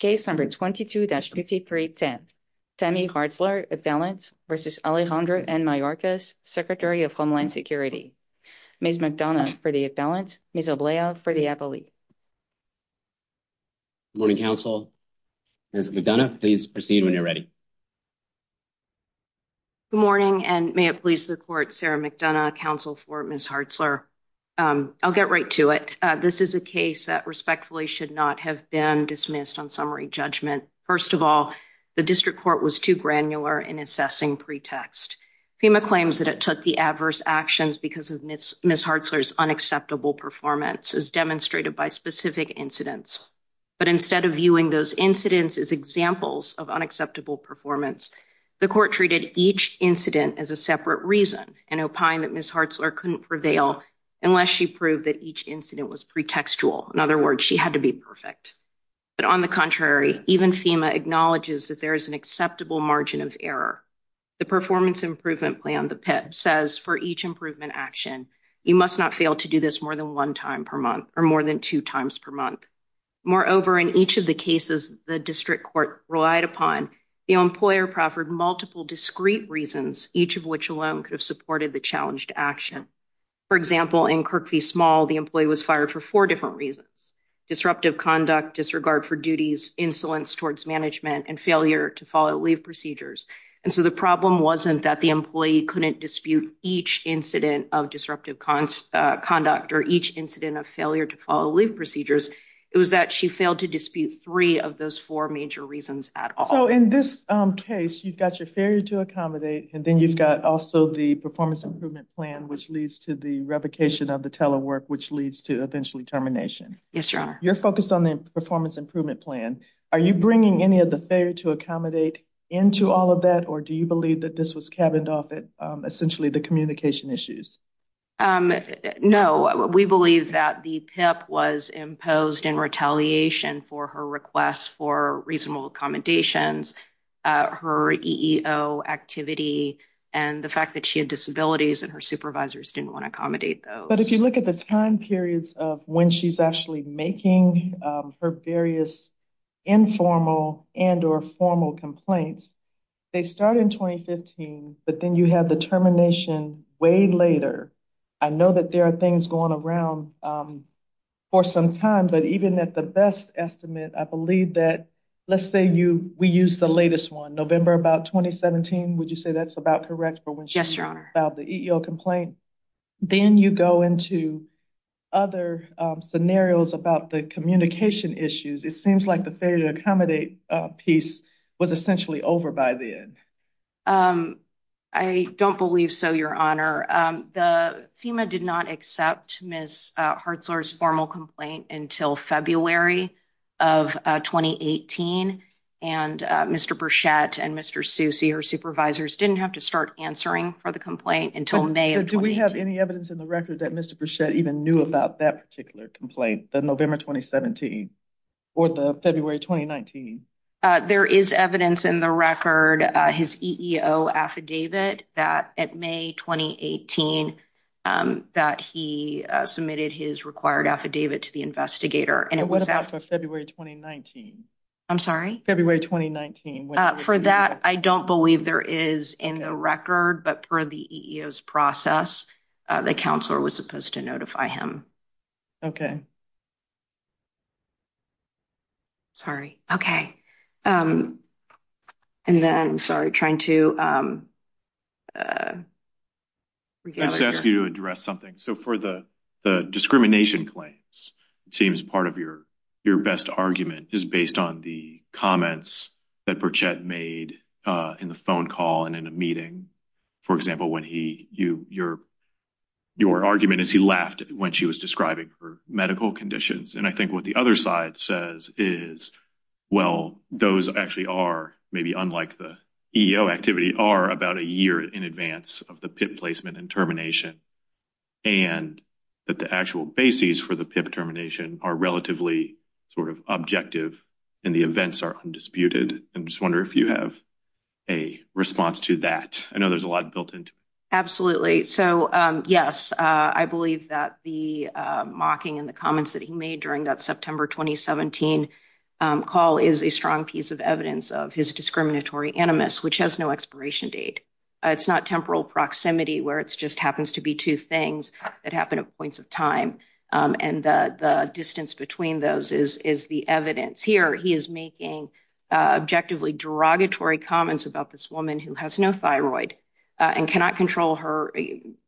Case number 22-5310. Tammy Hartzler, appellant, versus Alejandro N. Mayorkas, Secretary of Homeland Security. Ms. McDonough for the appellant, Ms. Oblea for the appellee. Good morning, counsel. Ms. McDonough, please proceed when you're ready. Good morning and may it please the court, Sarah McDonough, counsel for Ms. Hartzler. I'll get right to it. This is a case that respectfully should not have been dismissed on summary judgment. First of all, the district court was too granular in assessing pretext. FEMA claims that it took the adverse actions because of Ms. Hartzler's unacceptable performance, as demonstrated by specific incidents. But instead of viewing those incidents as examples of unacceptable performance, the court treated each incident as a separate reason and opined that Ms. Hartzler couldn't prevail unless she proved that each incident was pretextual. In other words, she had to be perfect. But on the contrary, even FEMA acknowledges that there is an acceptable margin of error. The performance improvement plan, the PIP, says for each improvement action, you must not fail to do this more than one time per month or more than two times per month. Moreover, in each of the cases the district court relied upon, the employer proffered multiple discrete reasons, each of which alone could have supported the challenged action. For example, in Kirkby Small, the employee was fired for four different reasons. Disruptive conduct, disregard for duties, insolence towards management, and failure to follow leave procedures. And so the problem wasn't that the employee couldn't dispute each incident of disruptive conduct or each incident of failure to follow leave procedures. It was that she failed to dispute three of those four major reasons at all. So in this case, you've got your failure to accommodate, and then you've got also the performance improvement plan, which leads to the revocation of the telework, which leads to eventually termination. Yes, your honor. You're focused on the performance improvement plan. Are you bringing any of the failure to accommodate into all of that, or do you believe that this was cabined off it essentially the communication issues? No, we believe that the PIP was imposed in retaliation for her requests for reasonable accommodations, her EEO activity, and the fact that she had disabilities and her supervisors didn't want to accommodate those. But if you look at the time periods of when she's actually making her various informal and or formal complaints, they start in 2015, but then you have the termination way later. I know that there are things going around for some time, but even at the best estimate, I believe that, let's say we use the latest one, November about 2017, would you say that's about correct for when she filed the EEO complaint? Yes, your honor. Then you go into other scenarios about the communication issues. It seems like the failure to accommodate piece was essentially over by then. I don't believe so, your honor. FEMA did not accept Ms. Hartzler's formal complaint until February of 2018, and Mr. Burchette and Mr. Susi, her supervisors, didn't have to start answering for the complaint until May of 2018. Do we have any evidence in the record that Mr. Burchette even knew about that particular complaint, the November 2017, or the February 2019? There is evidence in the record, his EEO affidavit, that at May 2018 that he submitted his required affidavit to the investigator. And what about for February 2019? I'm sorry? February 2019. For that, I don't believe there is in the record, but per the EEO's process, the counselor was supposed to notify him. Okay. Sorry. Okay. And then, sorry, trying to... I just ask you to address something. So for the discrimination claims, it seems part of your best argument is based on the comments that Burchette made in the phone call and in a meeting. For example, your argument is he laughed when she was describing her medical conditions. And I think what the other side says is, well, those actually are, maybe unlike the EEO activity, are about a year in advance of the PIP placement and termination. And that the actual bases for the PIP termination are relatively sort of objective, and the events are undisputed. I just wonder if you have a response to that. I know there's a lot built into it. Absolutely. So, yes, I believe that the mocking and the comments that he made during that September 2017 call is a strong piece of evidence of his discriminatory animus, which has no expiration date. It's not temporal proximity where it just happens to be two things that happen at points of time, and the distance between those is the evidence. Here, he is making objectively derogatory comments about this woman who has no thyroid and cannot control her,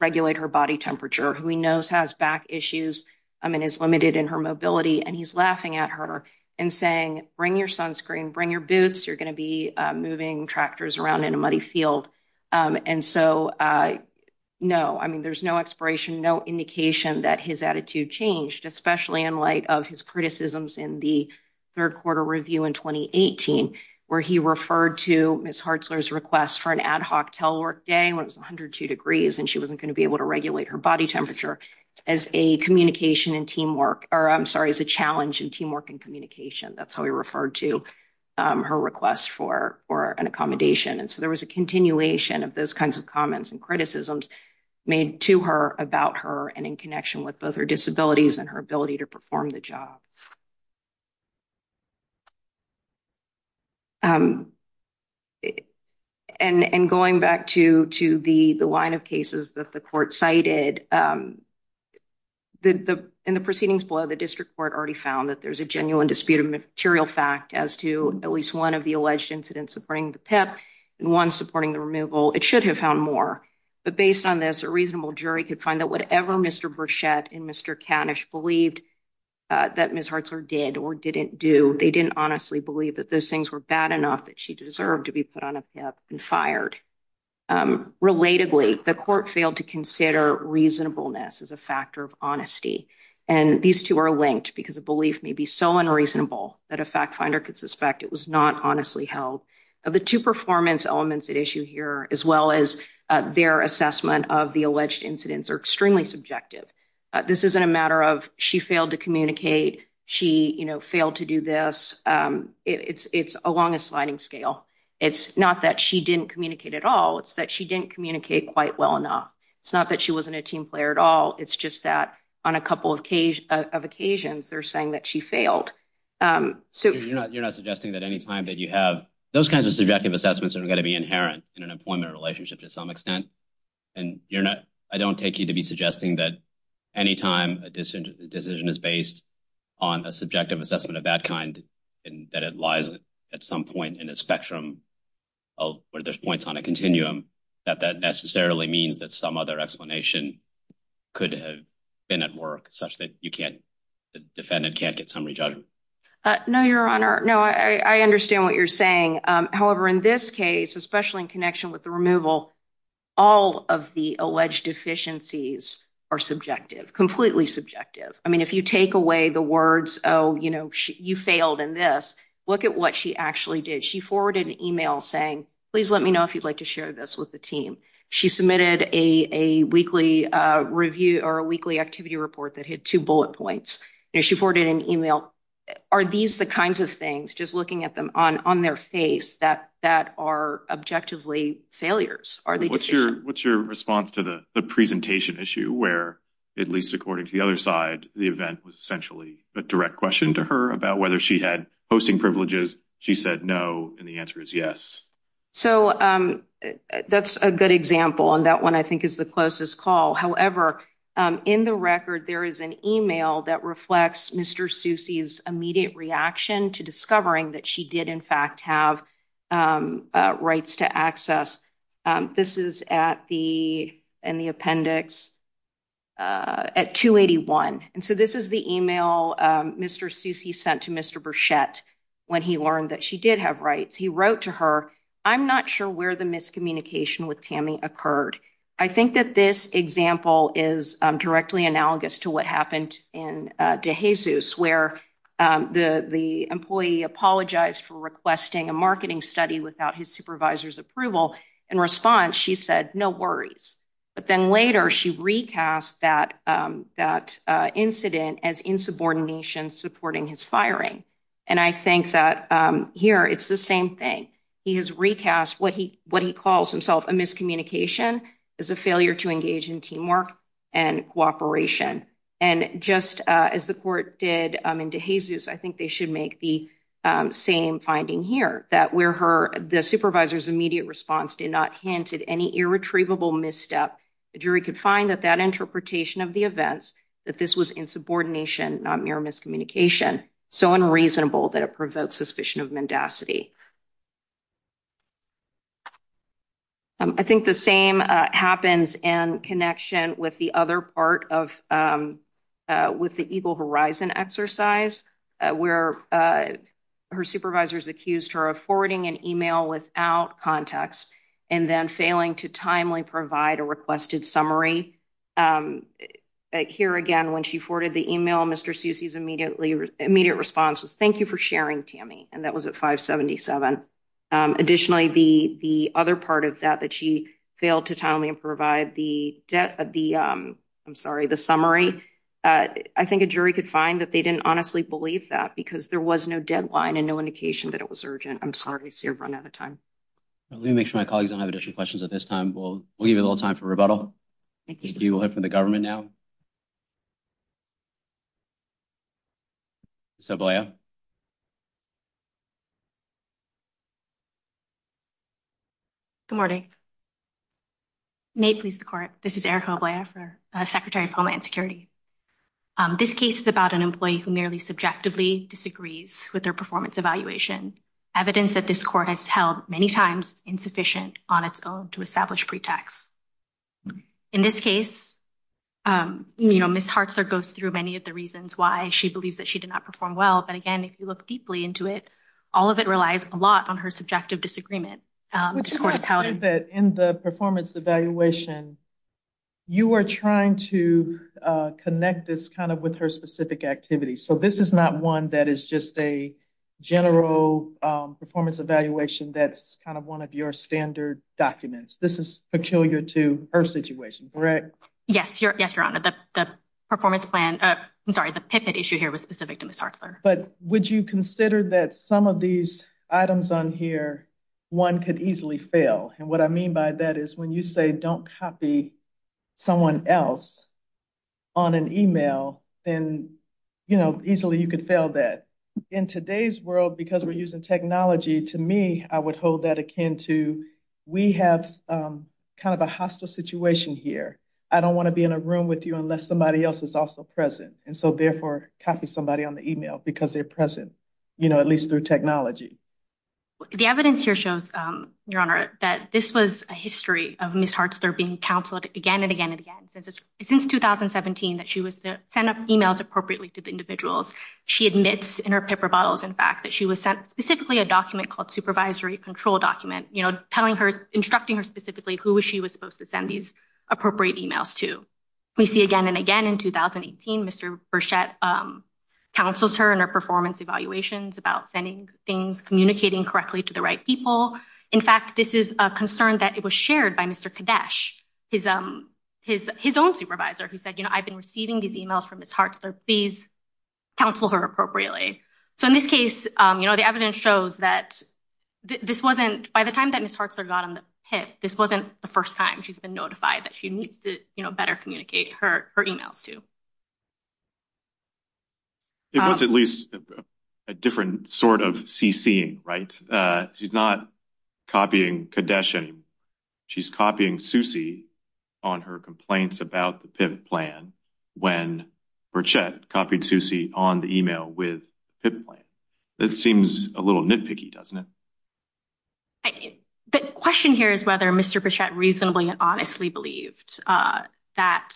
regulate her body temperature, who he knows has back issues, I mean, is limited in her mobility, and he's laughing at her and saying, bring your sunscreen, bring your boots, you're gonna be moving tractors around in a muddy field. And so, no, I mean, there's no expiration, no indication that his attitude changed, especially in light of his criticisms in the third quarter review in 2018, where he referred to Ms. Hartzler's request for an ad hoc telework day when it was 102 degrees and she wasn't going to be able to regulate her body temperature as a communication and teamwork, or I'm sorry, as a challenge in teamwork and communication. That's how he referred to her request for an accommodation. And so there was a continuation of those kinds of comments and criticisms made to her about her and connection with both her disabilities and her ability to perform the job. And going back to the line of cases that the court cited, in the proceedings below, the district court already found that there's a genuine disputed material fact as to at least one of the alleged incidents supporting the PIP and one supporting the removal. It should have found more, but based on this, a reasonable jury could find that whatever Mr. Burchette and Mr. Canish believed that Ms. Hartzler did or didn't do, they didn't honestly believe that those things were bad enough that she deserved to be put on a PIP and fired. Relatedly, the court failed to consider reasonableness as a factor of honesty, and these two are linked because a belief may be so unreasonable that a fact-finder could suspect it was not honestly held. Of the two performance elements at issue here, as well as their assessment of the alleged incidents, are extremely subjective. This isn't a matter of she failed to communicate, she, you know, failed to do this. It's along a sliding scale. It's not that she didn't communicate at all, it's that she didn't communicate quite well enough. It's not that she wasn't a team player at all, it's just that on a couple of occasions, they're saying that she failed. So you're not suggesting that any time that you have those kinds of subjective assessments that are going to be inherent in an employment relationship to some extent, and you're not, I don't take you to be suggesting that any time a decision is based on a subjective assessment of that kind, and that it lies at some point in a spectrum where there's points on a continuum, that that necessarily means that some other explanation could have been at work, such that you can't, the defendant can't get No, your honor. No, I understand what you're saying. However, in this case, especially in connection with the removal, all of the alleged deficiencies are subjective, completely subjective. I mean, if you take away the words, oh, you know, you failed in this, look at what she actually did. She forwarded an email saying, please let me know if you'd like to share this with the team. She submitted a weekly activity report that had two bullet points. She forwarded an email. Are these the kinds of things, just looking at them on their face, that are objectively failures? What's your response to the presentation issue where, at least according to the other side, the event was essentially a direct question to her about whether she had posting privileges. She said no, and the answer is yes. So that's a good example, and that one I think is the closest call. However, in the record, there is an email that reflects Mr. Soucy's immediate reaction to discovering that she did, in fact, have rights to access. This is in the appendix at 281, and so this is the email Mr. Soucy sent to Mr. Burchette when he learned that she did have rights. He wrote to her, I'm not sure where the miscommunication with Tammy occurred. I think that this example is directly analogous to what happened in De Jesus, where the employee apologized for requesting a marketing study without his supervisor's approval. In response, she said no worries, but then later she recast that incident as insubordination supporting his firing, and I think that here it's the same thing. He has recast what he calls himself a miscommunication as a failure to engage in teamwork and cooperation, and just as the court did in De Jesus, I think they should make the same finding here, that where the supervisor's immediate response did not hint at any irretrievable misstep, a jury could find that that interpretation of the events, that this was insubordination, not mere miscommunication, so unreasonable that it I think the same happens in connection with the other part of, with the Eagle Horizon exercise, where her supervisors accused her of forwarding an email without context, and then failing to timely provide a requested summary. Here again, when she forwarded the email, Mr. Soucy's immediate response was thank you for sharing, Tammy, and that was at 577. Additionally, the other part of that, that she failed to tell me and provide the debt, the, I'm sorry, the summary, I think a jury could find that they didn't honestly believe that because there was no deadline and no indication that it was urgent. I'm sorry, I see I've run out of time. Let me make sure my colleagues don't have additional questions at this time. We'll give you a little time for rebuttal. Thank you. We'll hear from the government now. Ms. Oblaya. Good morning. May it please the Court, this is Erica Oblaya for Secretary of Homeland Security. This case is about an employee who merely subjectively disagrees with their performance evaluation, evidence that this court has held many times insufficient on its own to establish pretext. In this case, you know, Ms. Hartzler goes through many of the reasons why she believes that she did not perform well, but again, if you look deeply into it, all of it relies a lot on her subjective disagreement. In the performance evaluation, you were trying to connect this kind of with her specific activities, so this is not one that is just a general performance evaluation that's kind of one of your standard documents. This is peculiar to her situation, correct? Yes, your Honor, the performance plan, I'm sorry, the PIPED issue here was specific to Ms. Hartzler. But would you consider that some of these items on here, one could easily fail, and what I mean by that is when you say don't copy someone else on an email, then, you know, easily you could fail that. In today's world, because we're using technology, to me, I would hold that akin to we have kind of a hostile situation here. I don't want to be in a room with you unless somebody else is also present, and so therefore copy somebody on the email because they're present, you know, at least through technology. The evidence here shows, your Honor, that this was a history of Ms. Hartzler being counseled again and again and again. Since 2017 that she was to send up emails appropriately to the individuals, she admits in her paper bottles, in fact, that she was sent specifically a document called supervisory control document, you know, telling her, instructing her specifically who she was supposed to send these appropriate emails to. We see again and again in 2018, Mr. Burchette counsels her in her performance evaluations about sending things, communicating correctly to the right people. In fact, this is a concern that it was shared by Mr. Kadesh, his own supervisor, who said, you know, I've been receiving these emails from Ms. Hartzler, please counsel her appropriately. So in this case, you know, the evidence shows that this wasn't, by the time that Ms. Hartzler got on the PIP, this wasn't the first time she's been notified that she needs to, you know, better communicate her emails to. It was at least a different sort of CCing, right? She's not copying Kadesh anymore. She's copying Susie on her complaints about the PIP plan when Burchette copied Susie on the email with PIP plan. That seems a little nitpicky, doesn't it? The question here is whether Mr. Burchette reasonably and honestly believed that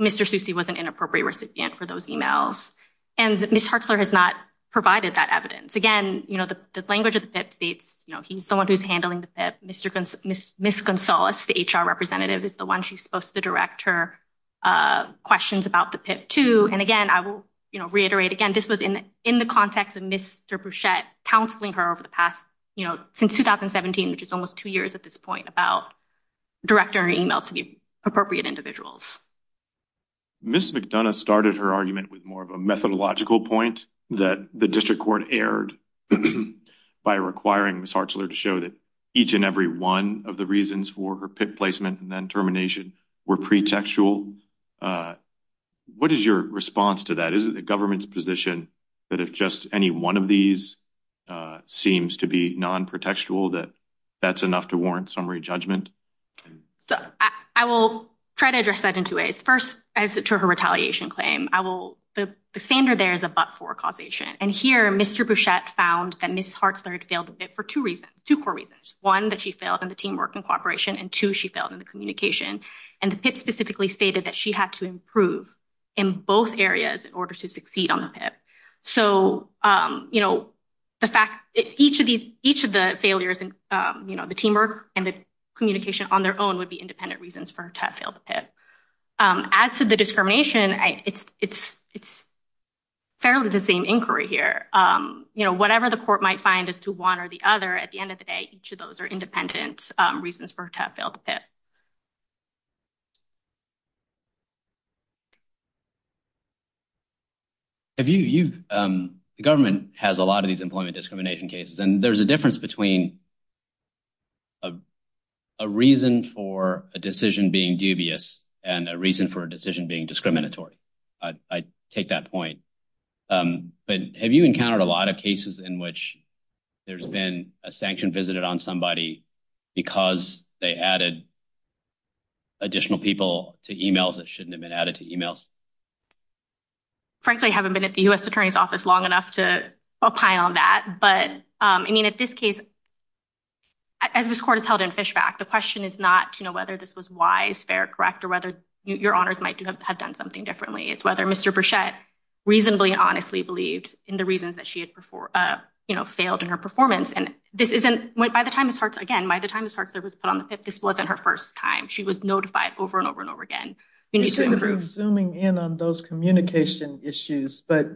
Mr. Susie was an inappropriate recipient for those emails, and Ms. Hartzler has not provided that evidence. Again, you know, the language of the PIP states, you know, he's the one who's handling the PIP. Ms. Gonzales, the HR representative, is the one she's supposed to direct her questions about the PIP to, and again, I will, you know, reiterate again, this was in the context of Mr. Burchette counseling her over the past, you know, since 2017, which is almost two years at this point, about direct her emails to the appropriate individuals. Ms. McDonough started her argument with more of a methodological point that the district court erred by requiring Ms. Hartzler to show that each and every one of the reasons for her PIP placement and then termination were pretextual. What is your response to that? Is it the government's position that if just any one of these seems to be non-pretextual that that's enough to warrant summary judgment? I will try to address that in two ways. First, as to her retaliation claim, I will, the standard there is a but-for causation, and here Mr. Burchette found that Ms. Hartzler had failed the PIP for two reasons, two core reasons. One, that she failed in the teamwork and cooperation, and two, she failed in the communication, and the PIP specifically stated that she had to improve in both areas in order to succeed on the PIP. So, you know, the fact, each of these, each of the failures in, you know, the teamwork and the communication on their own would be independent reasons for her to have failed the PIP. As to the discrimination, it's fairly the same inquiry here. You know, whatever the court might find as to one or the other, at the Have you, you, the government has a lot of these employment discrimination cases, and there's a difference between a reason for a decision being dubious and a reason for a decision being discriminatory. I take that point, but have you encountered a lot of cases in which there's been a sanction visited on because they added additional people to emails that shouldn't have been added to emails? Frankly, I haven't been at the U.S. attorney's office long enough to opine on that. But, I mean, at this case, as this court has held in Fishback, the question is not to know whether this was wise, fair, correct, or whether your honors might have done something differently. It's whether Mr. Burchette reasonably and honestly believed in the reasons that she had, you know, failed in her performance. And this isn't, by the time this, again, by the time this was put on the PIP, this wasn't her first time. She was notified over and over and over again. We need to improve. Zooming in on those communication issues, but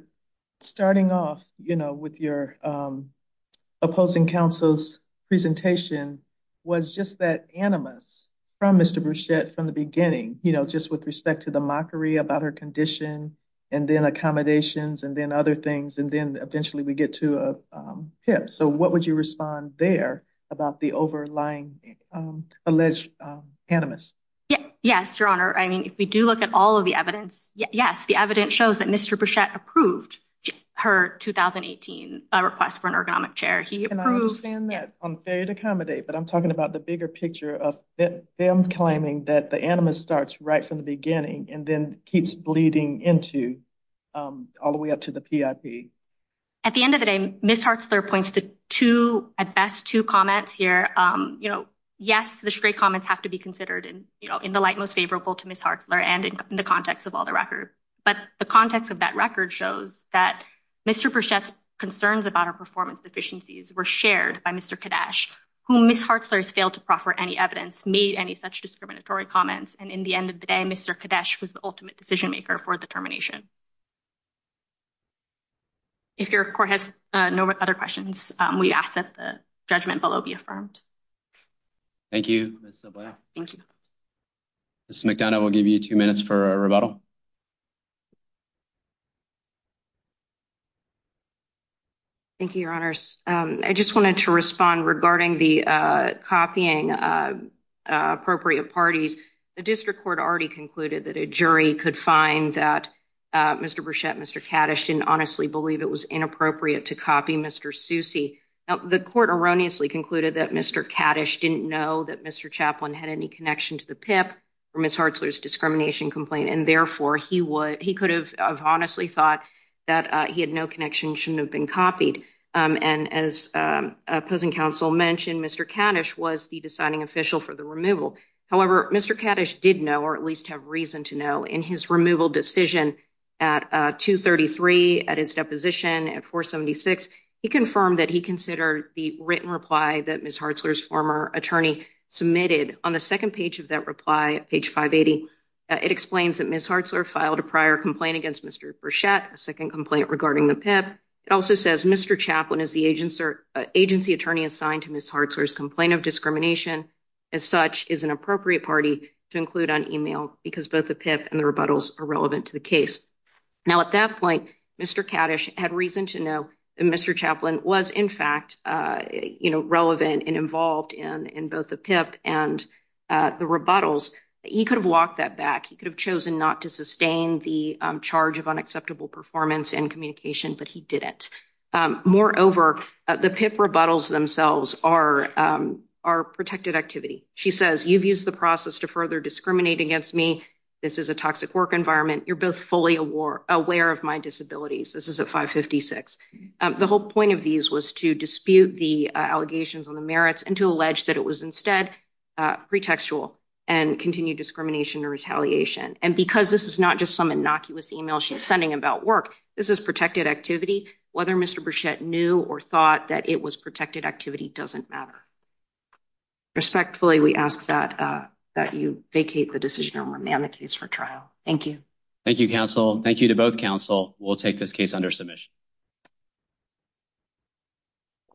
starting off, you know, with your opposing counsel's presentation was just that animus from Mr. Burchette from the beginning, you know, just with respect to the mockery about her condition, and then So what would you respond there about the overlying alleged animus? Yes, your honor. I mean, if we do look at all of the evidence, yes, the evidence shows that Mr. Burchette approved her 2018 request for an ergonomic chair. He approved. And I understand that on failure to accommodate, but I'm talking about the bigger picture of them claiming that the animus starts right from the beginning and then keeps bleeding into all the way up to the PIP. At the end of the day, Ms. Hartzler points to two, at best, two comments here. You know, yes, the stray comments have to be considered in the light most favorable to Ms. Hartzler and in the context of all the record. But the context of that record shows that Mr. Burchette's concerns about her performance deficiencies were shared by Mr. Kadesh, whom Ms. Hartzler has failed to proffer any evidence, made any such discriminatory comments. And in the end of the day, Mr. Kadesh was the ultimate decision maker for the termination. If your court has no other questions, we ask that the judgment below be affirmed. Thank you. Thank you. Ms. McDonough will give you two minutes for a rebuttal. Thank you, Your Honors. I just wanted to respond regarding the copying appropriate parties. The district court already concluded that a jury could find that Mr. Burchette, Mr. Kadesh didn't honestly believe it was inappropriate to copy Mr Susi. The court erroneously concluded that Mr. Kadesh didn't know that Mr Chaplain had any connection to the PIP for Ms. Hartzler's discrimination complaint, and therefore he could have honestly thought that he had no connection, shouldn't have been copied. And as opposing counsel mentioned, Mr. Kadesh was the deciding official for the removal. However, Mr. Kadesh did know, or at least have reason to know, in his removal decision at 2-33, at his deposition at 4-76, he confirmed that he considered the written reply that Ms. Hartzler's former attorney submitted. On the second page of that reply, page 580, it explains that Ms. Hartzler filed a prior complaint against Mr. Burchette, a second complaint regarding the PIP. It also says Mr. Chaplain is the agency attorney assigned to Ms. Hartzler's complaint of discrimination, as such, is an appropriate party to the case. Now, at that point, Mr. Kadesh had reason to know that Mr. Chaplain was, in fact, relevant and involved in both the PIP and the rebuttals. He could have walked that back. He could have chosen not to sustain the charge of unacceptable performance and communication, but he didn't. Moreover, the PIP rebuttals themselves are protected activity. She says, you've used the process to further discriminate against me. This is a toxic work environment. You're both fully aware of my disabilities. This is at 5-56. The whole point of these was to dispute the allegations on the merits and to allege that it was instead pretextual and continued discrimination or retaliation. And because this is not just some innocuous email she's sending about work, this is protected activity. Whether Mr Burchette knew or thought that it was protected activity doesn't matter. Respectfully, we ask that you vacate the decision and remand the case for trial. Thank you. Thank you, counsel. Thank you to both counsel. We'll take this case under submission.